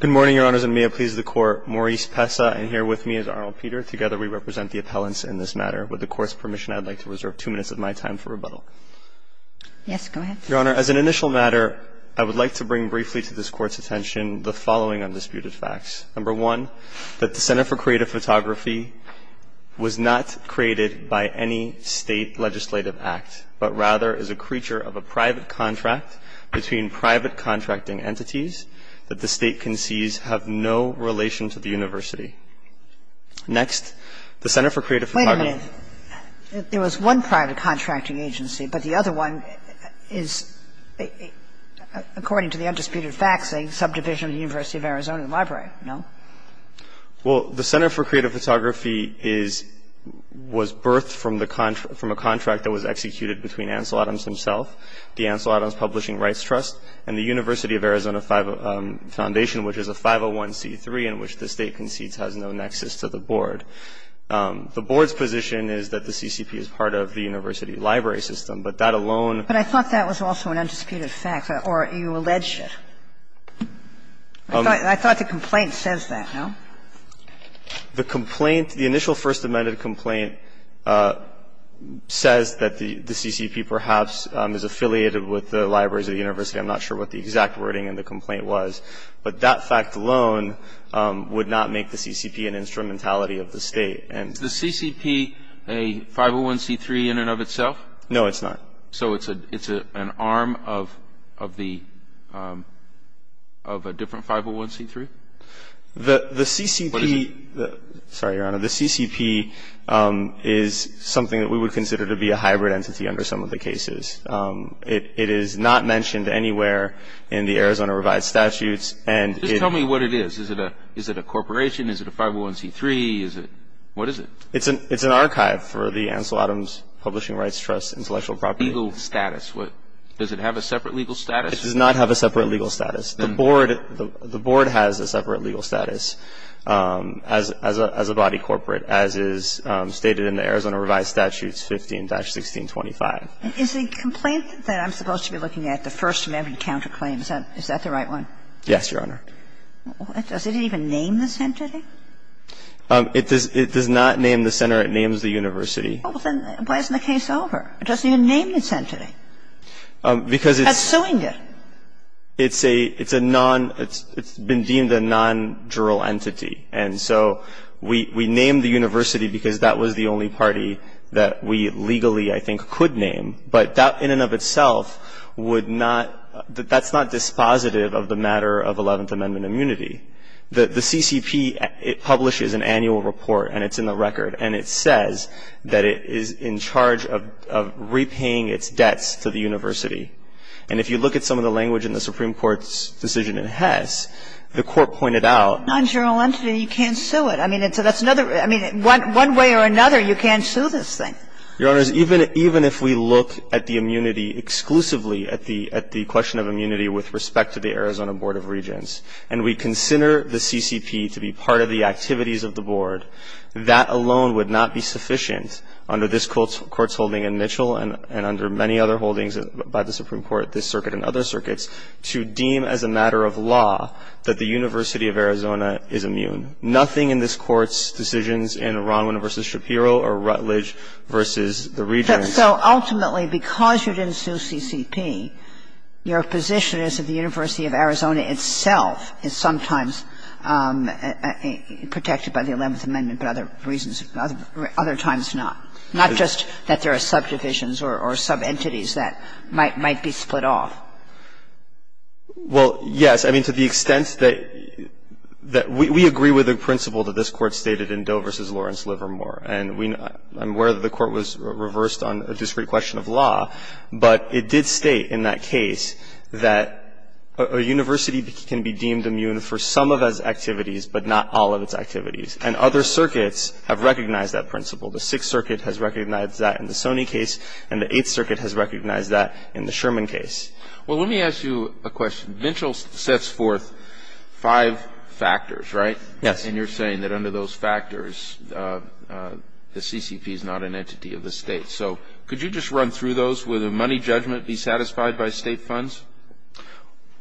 Good morning, Your Honors, and may it please the Court, Maurice Pessa and here with me is Arnold Peter. Together we represent the appellants in this matter. With the Court's permission, I'd like to reserve two minutes of my time for rebuttal. Yes, go ahead. Your Honor, as an initial matter, I would like to bring briefly to this Court's attention the following undisputed facts. Number one, that the Center for Creative Photography was not created by any state legislative act, but rather is a creature of a private contract between private contracting entities that the state concedes have no relation to the university. Next, the Center for Creative Photography... Wait a minute. There was one private contracting agency, but the other one is, according to the undisputed facts, a subdivision of the University of Arizona Library, no? Well, the Center for Creative Photography was birthed from a contract that was executed between Ansel Adams himself, the Ansel Adams Publishing Rights Trust, and the University of Arizona Foundation, which is a 501c3 in which the state concedes has no nexus to the board. The board's position is that the CCP is part of the university library system, but that alone... But I thought that was also an undisputed fact, or you alleged it. I thought the complaint says that, no? The initial First Amendment complaint says that the CCP perhaps is affiliated with the libraries of the university. I'm not sure what the exact wording in the complaint was, but that fact alone would not make the CCP an instrumentality of the state. Is the CCP a 501c3 in and of itself? No, it's not. So it's an arm of a different 501c3? The CCP... What is it? Sorry, Your Honor. The CCP is something that we would consider to be a hybrid entity under some of the cases. It is not mentioned anywhere in the Arizona Revised Statutes, and it... Just tell me what it is. Is it a corporation? Is it a 501c3? Is it... What is it? It's an archive for the Ansel Adams Publishing Rights Trust intellectual property. Legal status. Does it have a separate legal status? It does not have a separate legal status. The board has a separate legal status as a body corporate, as is stated in the Arizona Revised Statutes 15-1625. Is the complaint that I'm supposed to be looking at, the First Amendment counterclaim, is that the right one? Yes, Your Honor. Does it even name this entity? It does not name the center. It names the university. Well, then, why isn't the case over? It doesn't even name this entity. Because it's... That's suing it. It's a... It's a non... It's been deemed a non-jural entity. And so we named the university because that was the only party that we legally, I think, could name. But that, in and of itself, would not... That's not dispositive of the matter of Eleventh Amendment immunity. The CCP, it publishes an annual report, and it's in the record, and it says that it is in charge of repaying its debts to the university. And if you look at some of the language in the Supreme Court's decision in Hess, the Court pointed out... Non-jural entity, you can't sue it. I mean, that's another... I mean, one way or another, you can't sue this thing. Your Honors, even if we look at the immunity exclusively, at the question of immunity with respect to the Arizona Board of Regents, and we consider the CCP to be part of the activities of the Board, that alone would not be sufficient under this Court's holding in Mitchell and under many other holdings by the Supreme Court, this circuit and other circuits, to deem as a matter of law that the University of Arizona is immune. Nothing in this Court's decisions in Ronwin v. Shapiro or Rutledge v. the Regents... So ultimately, because you didn't sue CCP, your position is that the University of Arizona itself is sometimes protected by the Eleventh Amendment, but other times not. Not just that there are subdivisions or subentities that might be split off. Well, yes. I mean, to the extent that we agree with the principle that this Court stated in Doe v. Lawrence Livermore, and I'm aware that the Court was reversed on a discrete question of law, but it did state in that case that a university can be deemed immune for some of its activities, but not all of its activities. And other circuits have recognized that principle. The Sixth Circuit has recognized that in the Sony case, and the Eighth Circuit has recognized that in the Sherman case. Well, let me ask you a question. Mitchell sets forth five factors, right? Yes. And you're saying that under those factors, the CCP is not an entity of the state. So could you just run through those? Would a money judgment be satisfied by state funds?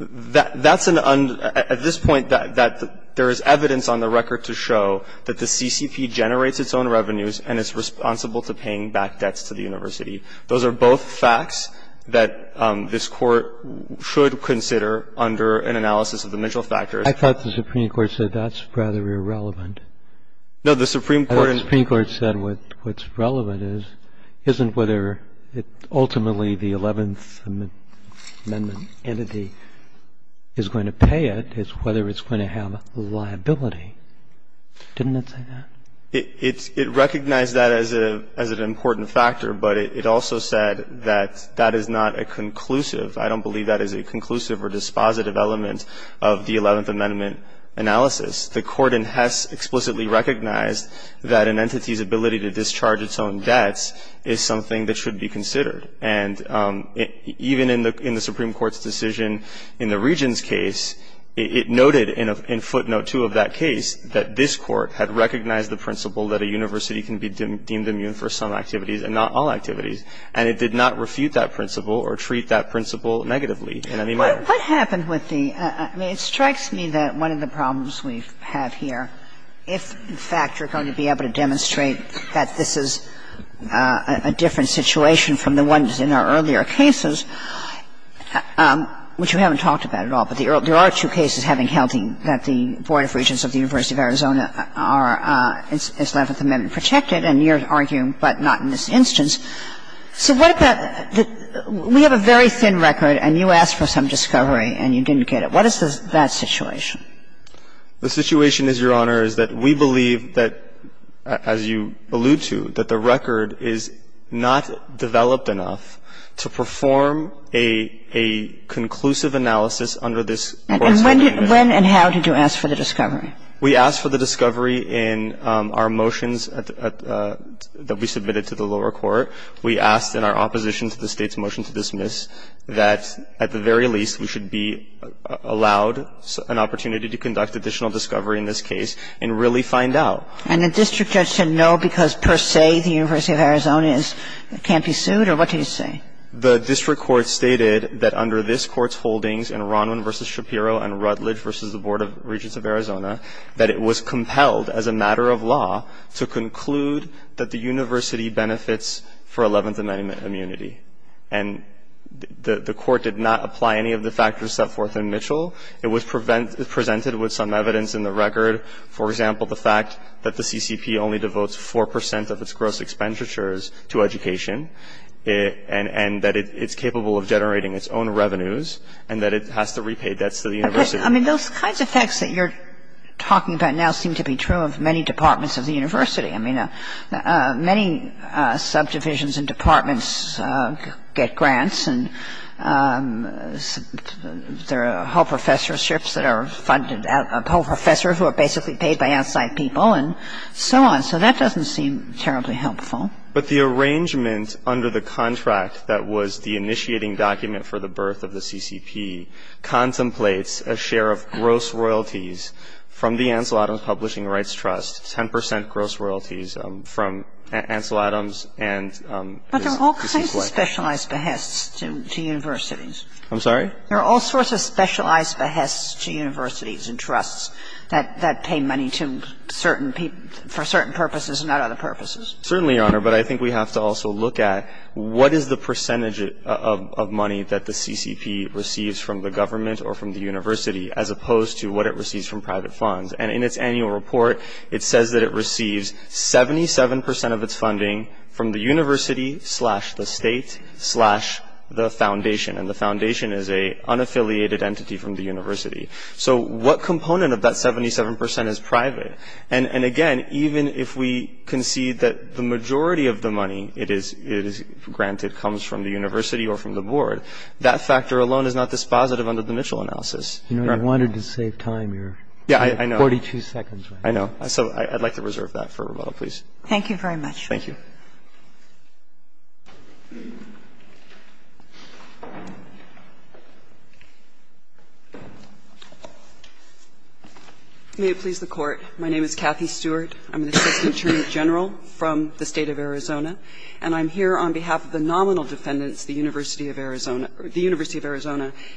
That's an... At this point, there is evidence on the record to show that the CCP generates its own revenues and is responsible to paying back debts to the university. Those are both facts that this Court should consider under an analysis of the Mitchell factors. I thought the Supreme Court said that's rather irrelevant. No, the Supreme Court... I thought the Supreme Court said what's relevant isn't whether ultimately the Eleventh Amendment entity is going to pay it. It's whether it's going to have liability. Didn't it say that? It recognized that as an important factor, but it also said that that is not a conclusive. I don't believe that is a conclusive or dispositive element of the Eleventh Amendment analysis. The Court in Hess explicitly recognized that an entity's ability to discharge its own debts is something that should be considered. And even in the Supreme Court's decision in the Regents' case, it noted in footnote two of that case that this Court had recognized the principle that a university can be deemed immune for some activities and not all activities. And it did not refute that principle or treat that principle negatively in any manner. What happened with the... I mean, it strikes me that one of the problems we have here, if in fact you're going to be able to demonstrate that this is a different situation from the ones in our earlier cases, which we haven't talked about at all, but there are two cases having held that the Board of Regents of the University of Arizona is left with the Amendment protected, and you're arguing but not in this instance. So what about the... We have a very thin record, and you asked for some discovery, and you didn't get it. What is that situation? The situation is, Your Honor, is that we believe that, as you allude to, that the record is not developed enough to perform a conclusive analysis under this Court's holdings. And when and how did you ask for the discovery? We asked for the discovery in our motions that we submitted to the lower court. We asked in our opposition to the State's motion to dismiss that, at the very least, we should be allowed an opportunity to conduct additional discovery in this case and really find out. And the district judge said no because, per se, the University of Arizona can't be sued? Or what did he say? The district court stated that under this Court's holdings in Ronwin v. Shapiro and Rutledge v. Board of Regents of Arizona, that it was compelled, as a matter of law, to conclude that the University benefits for Eleventh Amendment immunity. And the court did not apply any of the factors set forth in Mitchell. It was presented with some evidence in the record, for example, the fact that the CCP only devotes 4% of its gross expenditures to education, and that it's capable of generating its own revenues, and that it has to repay debts to the University. I mean, those kinds of facts that you're talking about now seem to be true of many departments of the University. I mean, many subdivisions and departments get grants, and there are whole professorships that are funded, a whole professor who are basically paid by outside people, and so on. So that doesn't seem terribly helpful. But the arrangement under the contract that was the initiating document for the birth of the CCP contemplates a share of gross royalties from the Ansel Adams Publishing Rights Trust, 10% gross royalties from Ansel Adams and the CCP. But there are all kinds of specialized behests to universities. I'm sorry? There are all sorts of specialized behests to universities and trusts that pay money to certain people for certain purposes and not other purposes. Certainly, Your Honor. But I think we have to also look at what is the percentage of money that the CCP receives from the government or from the university, as opposed to what it receives from private funds. And in its annual report, it says that it receives 77% of its funding from the university, slash, the state, slash, the foundation. And the foundation is an unaffiliated entity from the university. So what component of that 77% is private? And again, even if we concede that the majority of the money it is granted comes from the university or from the board, that factor alone is not dispositive under the Mitchell analysis. You know, you wanted to save time, Your Honor. Yeah, I know. 42 seconds. I know. So I'd like to reserve that for rebuttal, please. Thank you very much. Thank you. May it please the Court. My name is Kathy Stewart. I'm an assistant attorney general from the State of Arizona. And I'm here on behalf of the nominal defendants, the University of Arizona,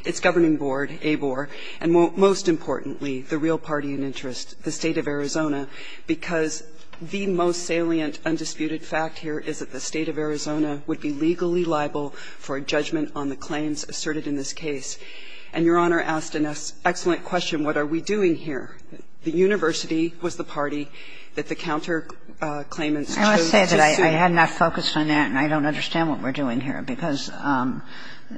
its governing board, ABOR, and most importantly, the real party in interest, the State of Arizona, because the most salient, undisputed fact is that the State of Arizona would be legally liable for a judgment on the claims asserted in this case. And Your Honor asked an excellent question. What are we doing here? The university was the party that the counterclaimants chose to sue. I want to say that I had not focused on that and I don't understand what we're doing here, because the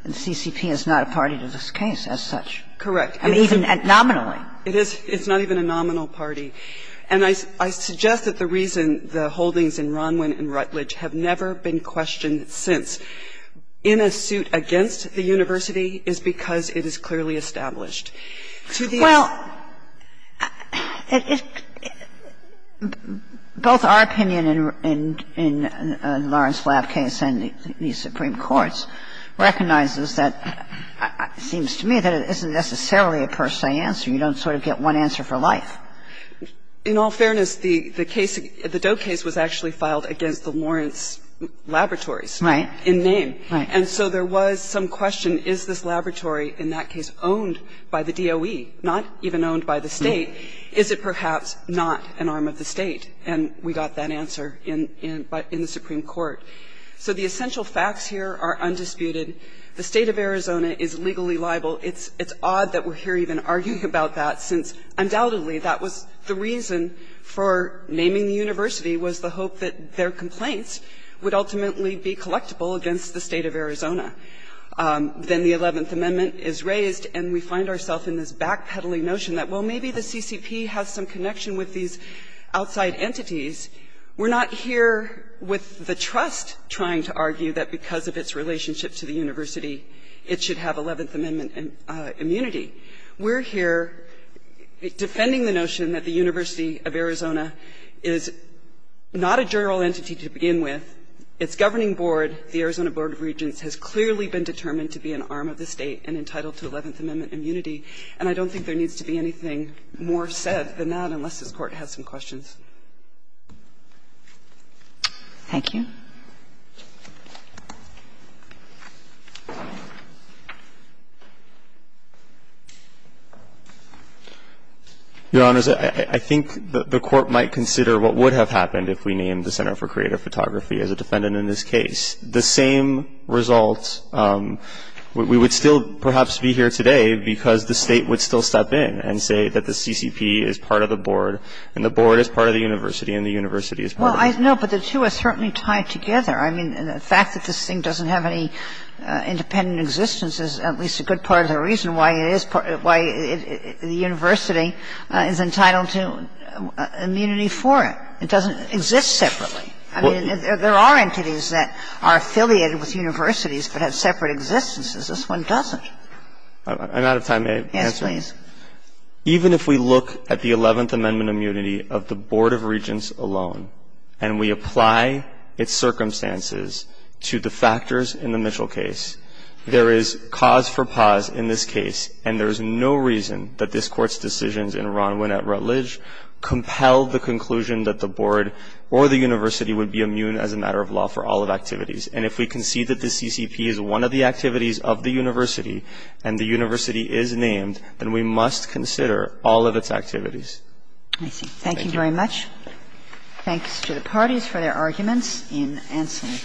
CCP is not a party to this case as such. Correct. Even nominally. It is. It's not even a nominal party. And I suggest that the reason the holdings in Ronwin and Rutledge have never been questioned since in a suit against the university is because it is clearly established. Well, both our opinion in Lawrence Flabb's case and the Supreme Court's recognizes that, it seems to me, that it isn't necessarily a per se answer. You don't sort of get one answer for life. In all fairness, the case, the Doe case was actually filed against the Lawrence laboratories. Right. In name. Right. And so there was some question, is this laboratory in that case owned by the DOE, not even owned by the State? Is it perhaps not an arm of the State? And we got that answer in the Supreme Court. So the essential facts here are undisputed. The State of Arizona is legally liable. It's odd that we're here even arguing about that since undoubtedly that was the reason for naming the university was the hope that their complaints would ultimately be collectible against the State of Arizona. Then the 11th Amendment is raised and we find ourselves in this backpedaling notion that, well, maybe the CCP has some connection with these outside entities. We're not here with the trust trying to argue that because of its relationship to the university, it should have 11th Amendment immunity. We're here defending the notion that the University of Arizona is not a general entity to begin with. Its governing board, the Arizona Board of Regents, has clearly been determined to be an arm of the State and entitled to 11th Amendment immunity. And I don't think there needs to be anything more said than that unless this Court has some questions. Thank you. Your Honors, I think the Court might consider what would have happened if we named the Center for Creative Photography as a defendant in this case. The same results, we would still perhaps be here today because the State would still step in and say that the CCP is part of the board and the board is part of the university and the university is part of the board. Well, no, but the two are certainly tied together. I mean, the fact that this thing doesn't have any independent existence is at least a good part of the reason why it is part of the university is entitled to immunity for it. It doesn't exist separately. I mean, there are entities that are affiliated with universities but have separate existences. This one doesn't. I'm out of time. May I answer? Yes, please. Even if we look at the Eleventh Amendment immunity of the Board of Regents alone and we apply its circumstances to the factors in the Mitchell case, there is cause for pause in this case and there is no reason that this Court's decisions in Ronwin at Rutledge compel the conclusion that the board or the university would be immune as a matter of law for all of activities. And if we concede that the CCP is one of the activities of the university and the university must consider all of its activities. I see. Thank you very much. Thanks to the parties for their arguments in Anselm.